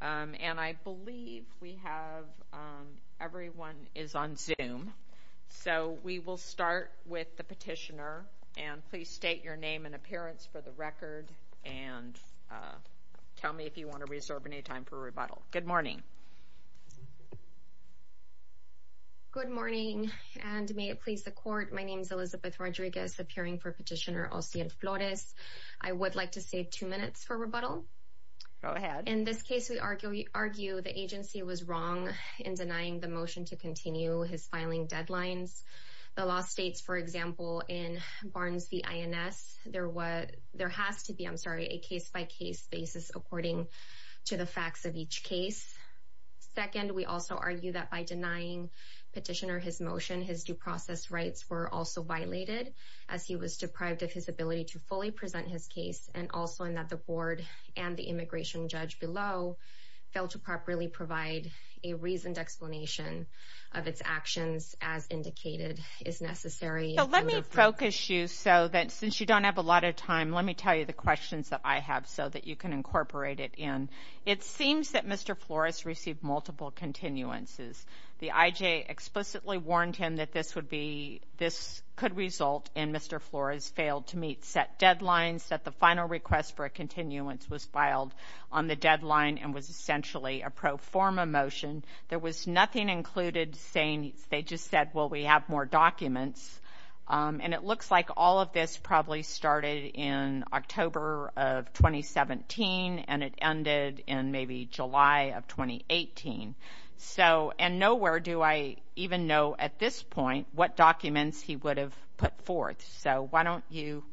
and I believe we have everyone is on zoom so we will start with the petitioner and please state your name and appearance for the record and tell me if you want to reserve any time for rebuttal good morning good morning and may it please the court my name is Elizabeth Rodriguez appearing for petitioner Ossian Flores I would like to save two minutes for rebuttal go ahead in this case we argue argue the agency was wrong in denying the motion to continue his filing deadlines the law states for example in Barnes v. INS there was there has to be I'm sorry a case-by-case basis according to the facts of each case second we also argue that by denying petitioner his motion his due process rights were also violated as he was deprived of his ability to fully present his case and also in that the board and the immigration judge below failed to properly provide a reasoned explanation of its actions as indicated is necessary let me focus you so that since you don't have a lot of time let me tell you the questions that I have so that you can incorporate it in it seems that mr. Flores received multiple continuances the IJ explicitly warned him that this would be this could result in mr. Flores failed to meet set deadlines that the final request for a continuance was filed on the deadline and was essentially a pro forma motion there was nothing included saying they just said well we have more documents and it looks like all of this probably started in October of 2017 and it ended in maybe July of 2018 so and nowhere do I even know at this point what documents he would have put forth so why don't you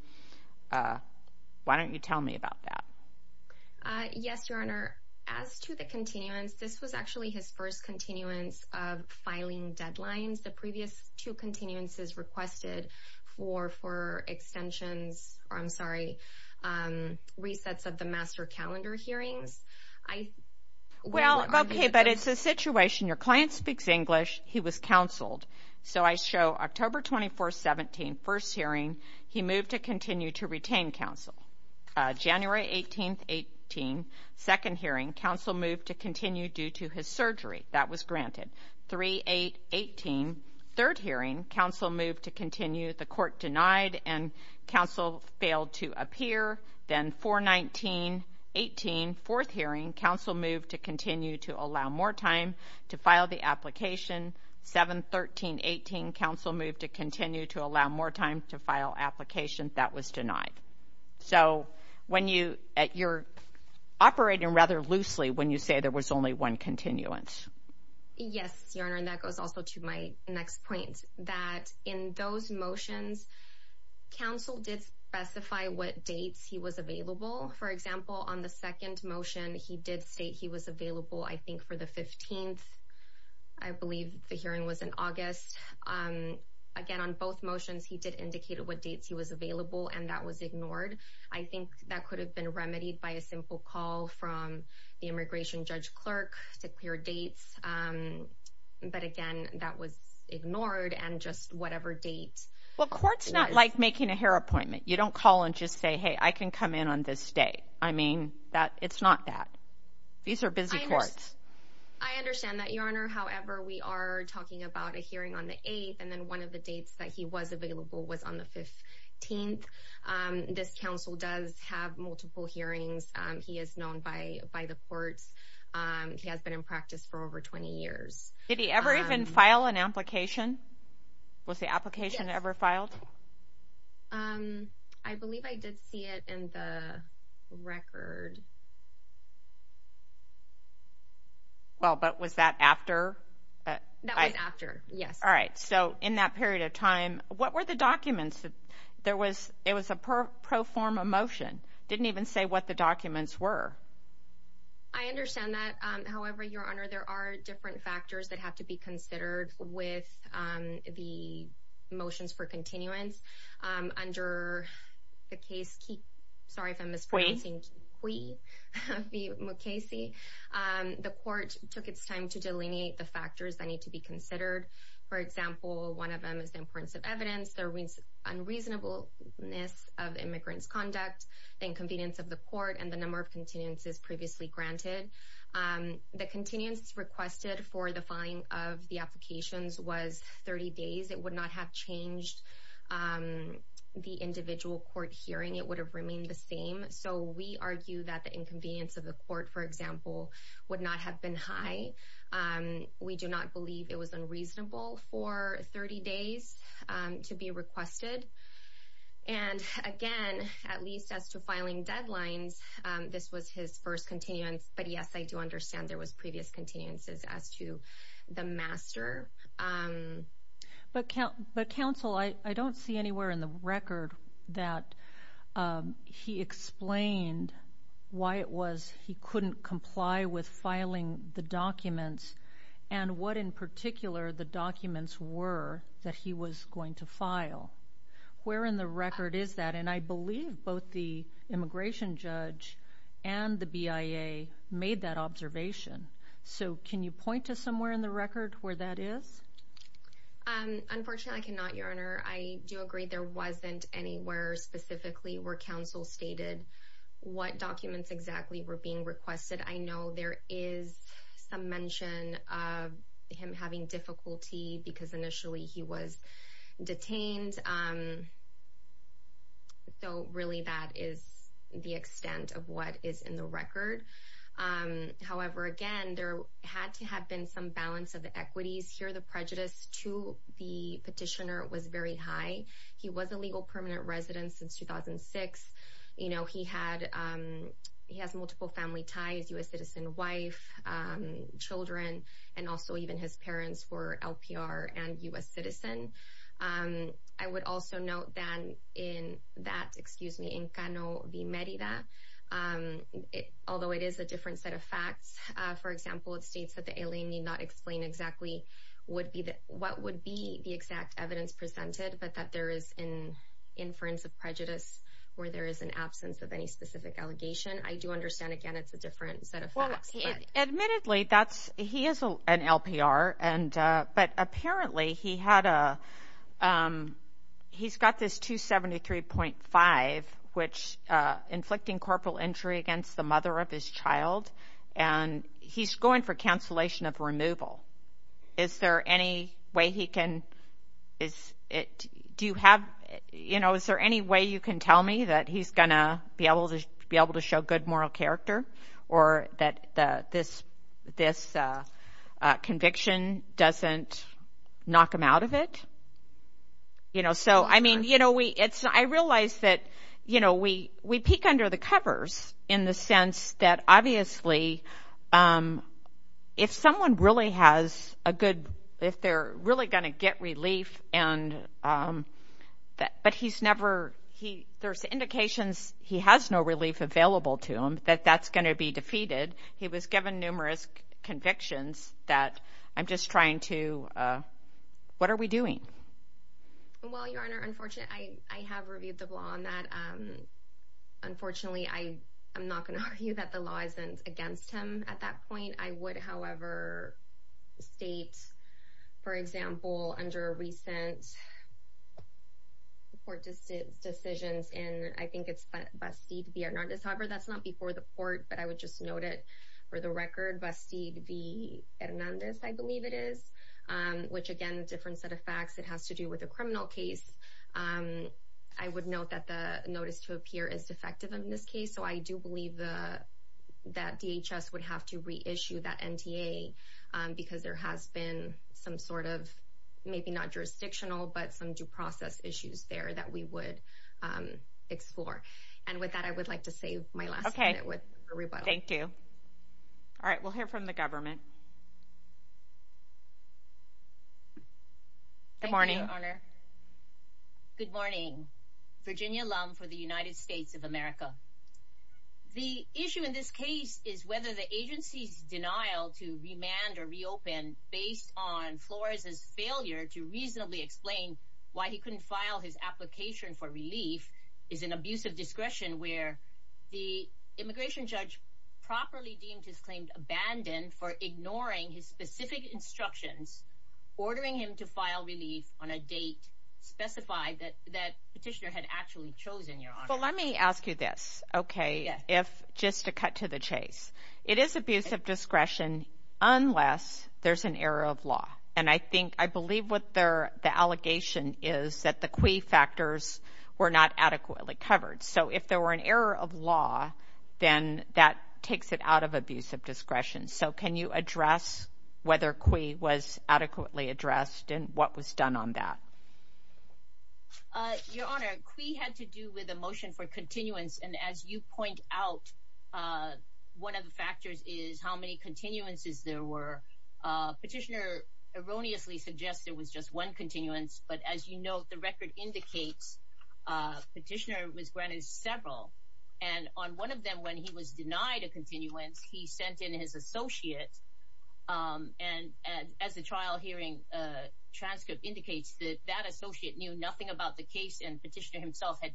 why don't you tell me about yes your honor as to the continuance this was actually his first continuance of filing deadlines the previous two continuances requested for for extensions I'm sorry resets of the master calendar hearings I well okay but it's a situation your October 24 17 first hearing he moved to continue to retain counsel January 18 18 second hearing counsel moved to continue due to his surgery that was granted 3 8 18 third hearing counsel moved to continue the court denied and counsel failed to appear then 419 18 fourth hearing counsel moved to continue to allow more time to file the application 713 18 counsel moved to continue to allow more time to file applications that was denied so when you at your operating rather loosely when you say there was only one continuance yes your honor and that goes also to my next point that in those motions counsel did specify what dates he was available for example on the second motion he did state he was available I think for the 15th I believe the hearing was in August again on both motions he did indicate what dates he was available and that was ignored I think that could have been remedied by a simple call from the immigration judge clerk to clear dates but again that was ignored and just whatever date well courts not like making a hair appointment you don't call and just say hey I can come in on this day I mean that it's not that these are busy parts I understand that your honor however we are talking about a hearing on the 8th and then one of the dates that he was available was on the 15th this council does have multiple hearings he is known by by the courts he has been in practice for over 20 years did he ever even file an application was the record well but was that after yes all right so in that period of time what were the documents there was it was a pro forma motion didn't even say what the documents were I understand that however your honor there are different factors that have to be considered with the motions for continuance under the case keep sorry if I'm mispronouncing we Casey the court took its time to delineate the factors that need to be considered for example one of them is the importance of evidence there wins unreasonableness of immigrants conduct inconvenience of the court and the number of continuances previously granted the continuance requested for the filing of the applications was 30 days it would not have changed the individual court hearing it would have remained the same so we argue that the inconvenience of the court for example would not have been high we do not believe it was unreasonable for 30 days to be requested and again at least as to filing deadlines this was his first continuance but yes I do understand there was previous continuances as to the master but can't but counsel I don't see anywhere in the record that he explained why it was he couldn't comply with filing the documents and what in particular the documents were that he was going to file where in the record is that and I believe both the immigration judge and the BIA made that observation so can you point to somewhere in the record where that is unfortunately I cannot your honor I do agree there wasn't anywhere specifically where counsel stated what documents exactly were being requested I know there is some mention of him having difficulty because initially he was detained so really that is the extent of what is in the record however again there had to have been some balance of the equities here the prejudice to the petitioner was very high he was a legal permanent resident since 2006 you know he had he has multiple family ties US citizen wife children and also even his parents were in Canada although it is a different set of facts for example it states that the alien need not explain exactly would be that what would be the exact evidence presented but that there is in inference of prejudice where there is an absence of any specific allegation I do understand again it's a different set of admittedly that's he is an LPR and but apparently he had a he's got this 273.5 which inflicting corporal injury against the mother of his child and he's going for cancellation of removal is there any way he can is it do you have you know is there any way you can tell me that he's gonna be able to be able to show good character or that this this conviction doesn't knock him out of it you know so I mean you know we it's I realize that you know we we peek under the covers in the sense that obviously if someone really has a good if they're really gonna get relief and that but he's never he there's indications he has no relief available to him that that's going to be defeated he was given numerous convictions that I'm just trying to what are we doing unfortunately I am NOT gonna argue that the law isn't against him at that point I would however state for example under a recent report distance decisions and I think it's bestie to be or not this however that's not before the court but I would just note it for the record busty to be and on this I believe it is which again different set of facts it has to do with a criminal case I would note that the notice to appear is defective in this case so I do believe the that DHS would have to reissue that NTA because there has been some sort of maybe not jurisdictional but some due process issues there that we would explore and with that I would like to save my last okay with thank you all right we'll hear from the government good morning good morning Virginia alum for the United denial to remand or reopen based on Flores's failure to reasonably explain why he couldn't file his application for relief is an abuse of discretion where the immigration judge properly deemed his claimed abandoned for ignoring his specific instructions ordering him to file relief on a date specified that that petitioner had actually chosen your well let me ask you this okay if just to the chase it is abuse of discretion unless there's an error of law and I think I believe what they're the allegation is that the quay factors were not adequately covered so if there were an error of law then that takes it out of abuse of discretion so can you address whether quay was adequately addressed and what was done on that your honor we had to do with a motion for one of the factors is how many continuances there were petitioner erroneously suggested was just one continuance but as you know the record indicates petitioner was granted several and on one of them when he was denied a continuance he sent in his associate and as a trial hearing transcript indicates that that associate knew nothing about the case and petitioner himself had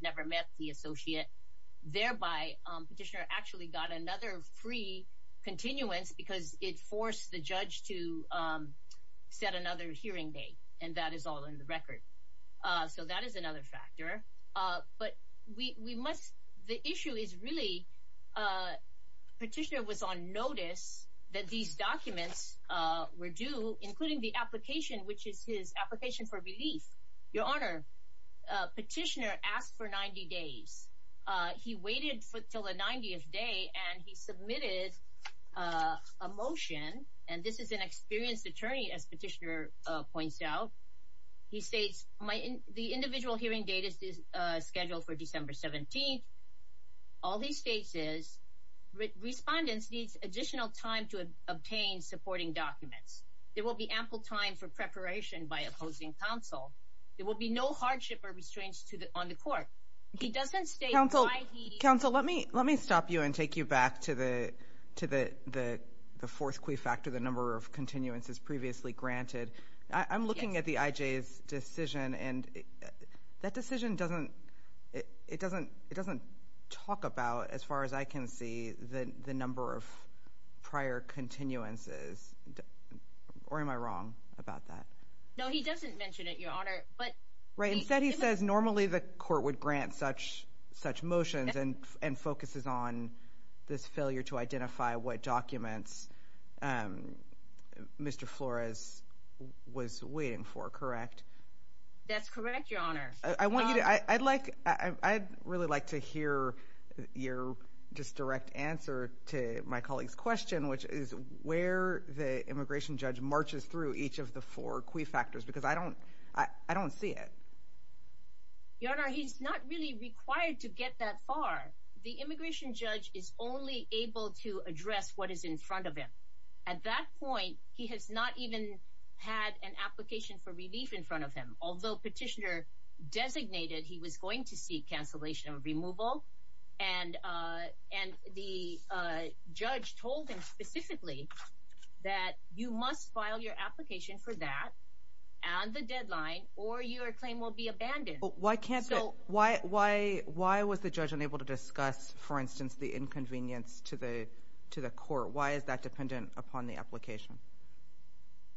another free continuance because it forced the judge to set another hearing date and that is all in the record so that is another factor but we must the issue is really petitioner was on notice that these documents were due including the application which is his application for relief your honor petitioner asked for 90 days he waited for till the 90th day and he submitted a motion and this is an experienced attorney as petitioner points out he states my in the individual hearing date is scheduled for December 17th all these cases respondents needs additional time to obtain supporting documents there will be ample time for preparation by opposing counsel there will be no let me let me stop you and take you back to the to the the fourth key factor the number of continuances previously granted I'm looking at the IJs decision and that decision doesn't it doesn't it doesn't talk about as far as I can see the the number of prior continuances or am I wrong about that but normally the court would grant such such motions and and focuses on this failure to identify what documents Mr. Flores was waiting for correct I'd like I'd really like to hear your just direct answer to my colleagues question which where the immigration judge marches through each of the four key factors because I don't I don't see it your honor he's not really required to get that far the immigration judge is only able to address what is in front of him at that point he has not even had an application for relief in front of him although petitioner designated he was going to seek cancellation of removal and and the judge told him specifically that you must file your application for that and the deadline or your claim will be abandoned why can't so why why why was the judge unable to discuss for instance the inconvenience to the to the court why is that dependent upon the application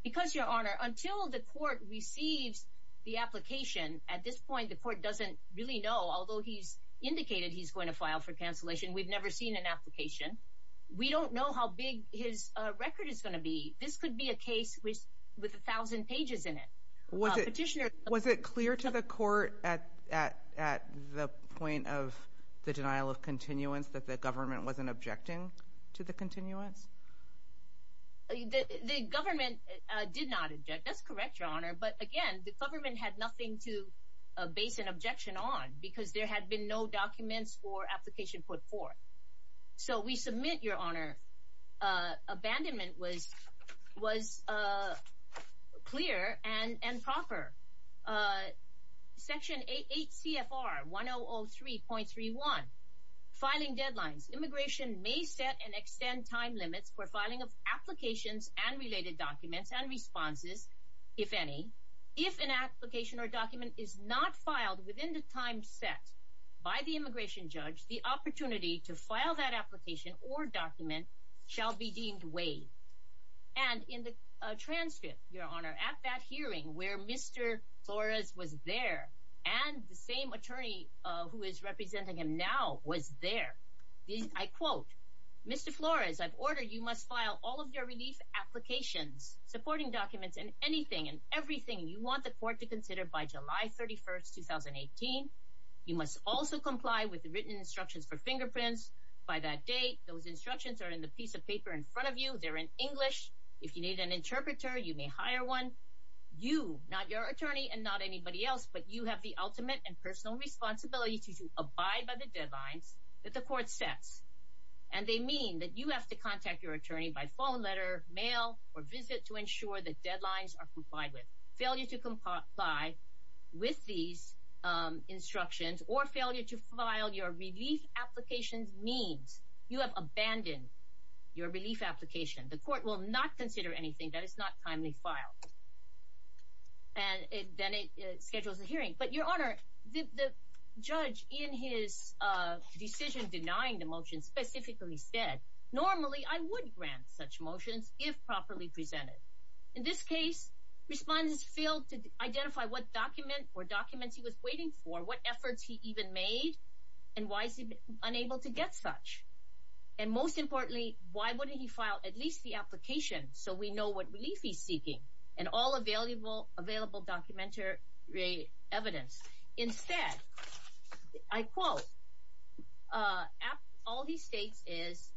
because your honor until the court receives the application at this point the court doesn't really know although he's indicated he's going to file for cancellation we've never seen an application we don't know how big his record is going to be this could be a case which with a thousand pages in it what a petitioner was it clear to the court at at at the point of the denial of continuance that the government wasn't objecting to the continuance the government did not object that's correct your honor but again the government had nothing to base an objection on because there had been no documents for application put forth so we submit your honor abandonment was was clear and and proper section 8 CFR 100 3.3 1 filing deadlines immigration may set and extend time limits for filing of applications and related documents and responses if any if an application or document is not within the time set by the immigration judge the opportunity to file that application or document shall be deemed way and in the transcript your honor at that hearing where mr. Flores was there and the same attorney who is representing him now was there these I quote mr. Flores I've ordered you must file all of your relief applications supporting documents and anything and you want the court to consider by July 31st 2018 you must also comply with the written instructions for fingerprints by that date those instructions are in the piece of paper in front of you they're in English if you need an interpreter you may hire one you not your attorney and not anybody else but you have the ultimate and personal responsibility to abide by the deadlines that the court sets and they mean that you have to contact your attorney by phone letter mail or visit to ensure that deadlines are complied with failure to comply with these instructions or failure to file your relief applications means you have abandoned your relief application the court will not consider anything that is not timely file and then it schedules a hearing but your honor the judge in his decision denying the motion specifically said normally I would grant such motions if properly presented in this case respondents failed to identify what document or documents he was waiting for what efforts he even made and why is he unable to get such and most importantly why wouldn't he file at least the application so we know what relief he's seeking and all available available documentary evidence instead I quote all he states is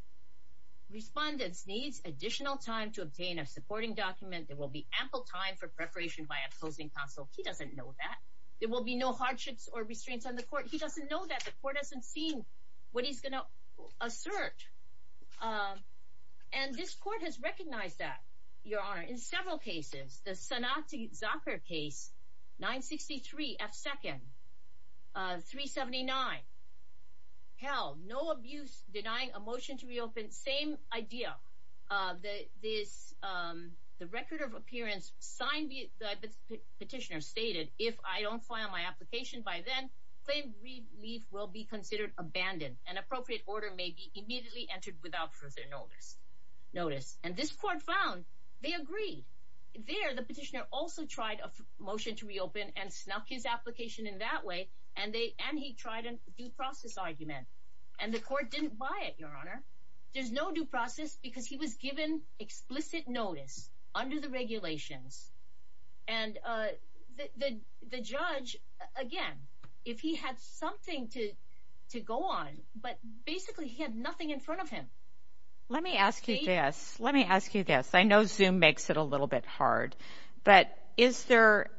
respondents needs additional time to obtain a supporting document there will be ample time for preparation by opposing counsel he doesn't know that there will be no hardships or restraints on the court he doesn't know that the court hasn't seen what he's gonna assert and this court has recognized that your honor in several cases the Sonata soccer case 963 f-second 379 hell no abuse denying a this the record of appearance signed the petitioner stated if I don't file my application by then claim relief will be considered abandoned an appropriate order may be immediately entered without further notice notice and this court found they agreed there the petitioner also tried a motion to reopen and snuck his application in that way and they and he tried a due process argument and the explicit notice under the regulations and the judge again if he had something to to go on but basically he had nothing in front of him let me ask you this let me ask you this I know zoom makes it a little bit hard but is there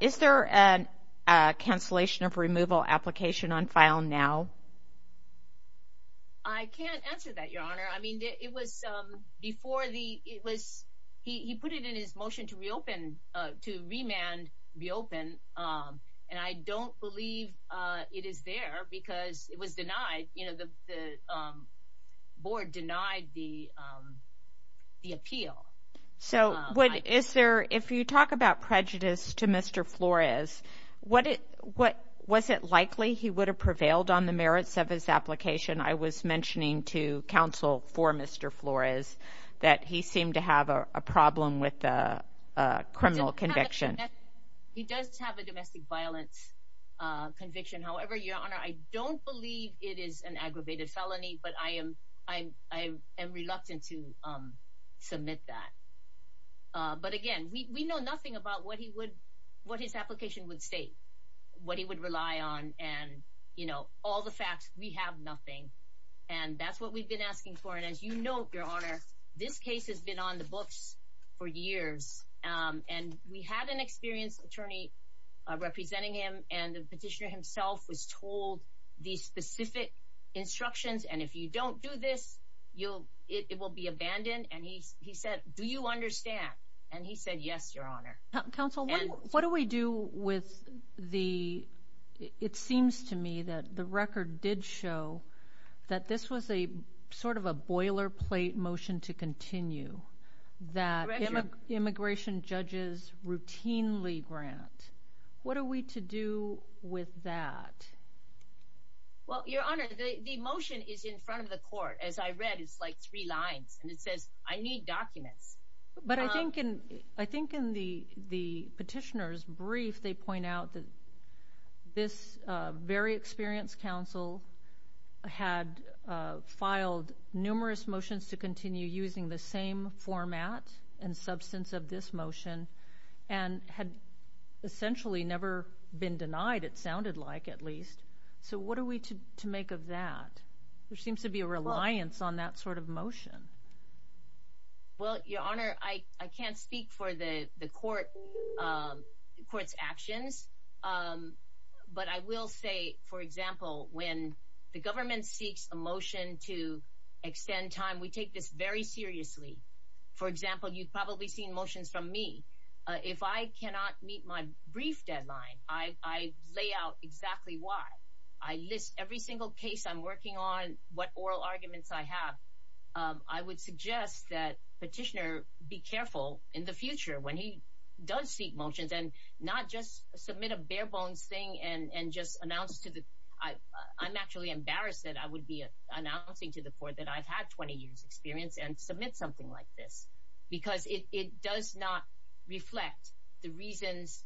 is there an cancellation of removal application on file now I can't answer that your honor I mean it was before the it was he put it in his motion to reopen to remand reopen and I don't believe it is there because it was denied you know the board denied the the appeal so what is there if you talk about prejudice to mr. Flores what it what was it likely he would have prevailed on the merits of his application I was mentioning to counsel for mr. Flores that he seemed to have a problem with the criminal conviction he does have a domestic violence conviction however your honor I don't believe it is an aggravated felony but I am I am reluctant to submit that but again we know nothing about what he would what his application would state what he would rely on and you know all the facts we have nothing and that's what we've been asking for and as you know your honor this case has been on the books for years and we had an experienced attorney representing him and the petitioner himself was told these specific instructions and if you don't do this you'll it will be abandoned and he said do you understand and he said yes your honor council what do we do with the it seems to me that the record did show that this was a sort of a boilerplate motion to continue that immigration judges routinely grant what are we to do with that well your honor the motion is in front of the court as I read it's like three lines and it says I need documents but I think in I think in the petitioners brief they point out that this very experienced counsel had filed numerous motions to continue using the same format and substance of this motion and had essentially never been denied it sounded like at least so what are we to make of that there seems to be a reliance on that sort of motion well your honor I can't speak for the the court courts actions but I will say for example when the government seeks a motion to extend time we take this very seriously for example you've probably seen motions from me if I cannot meet my brief deadline I lay out exactly why I list every single case I'm working on what oral arguments I have I would suggest that petitioner be careful in the future when he does seek motions and not just submit a bare-bones thing and and just announce to the I I'm actually embarrassed that I would be announcing to the court that I've had 20 years experience and submit something like this because it does not reflect the reasons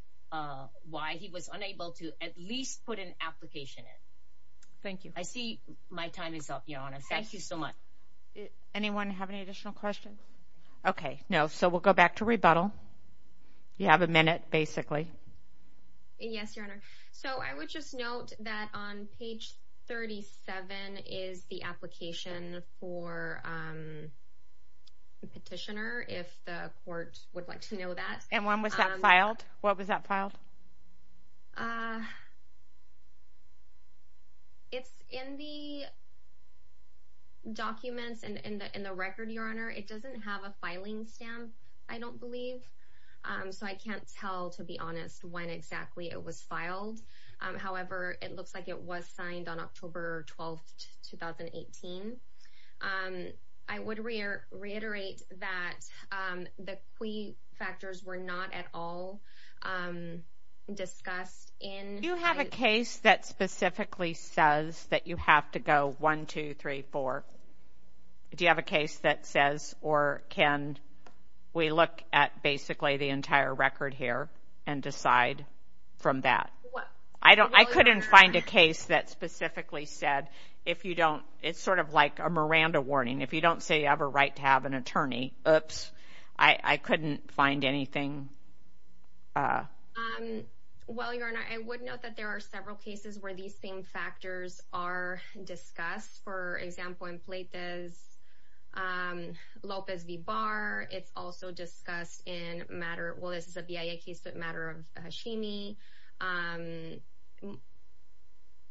why he was unable to at least put an application in thank you I see my time is up your honor thank you so much anyone have any additional questions okay no so we'll go back to rebuttal you have a minute basically yes your honor so I would just note that on page 37 is the application for petitioner if the court would like to filed what was that filed it's in the documents and in the in the record your honor it doesn't have a filing stamp I don't believe so I can't tell to be honest when exactly it was filed however it looks like it was signed on October 12 2018 I would reiterate that the key factors were not at all discussed in you have a case that specifically says that you have to go one two three four do you have a case that says or can we look at basically the entire record here from that I don't I couldn't find a case that specifically said if you don't it's sort of like a Miranda warning if you don't say you have a right to have an attorney oops I couldn't find anything well your honor I would note that there are several cases where these same factors are discussed for example in matter of Hashimi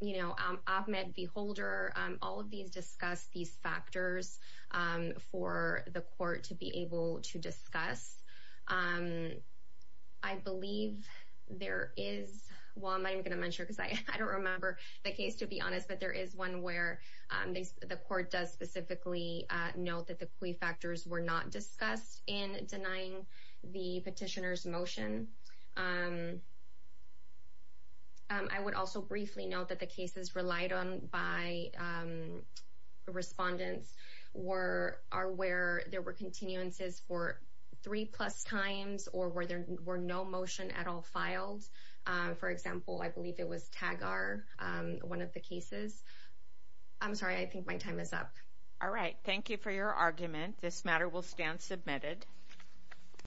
you know Ahmed beholder all of these discuss these factors for the court to be able to discuss I believe there is well I'm not gonna mention because I don't remember the case to be honest but there is one where the court does specifically note that the kui factors were not discussed in denying the petitioners motion I would also briefly note that the case is relied on by respondents were are where there were continuances for three plus times or where there were no motion at all filed for example I believe it was tag are one of the cases I'm sorry I think my time is up all right thank you for your argument this matter will stand submitted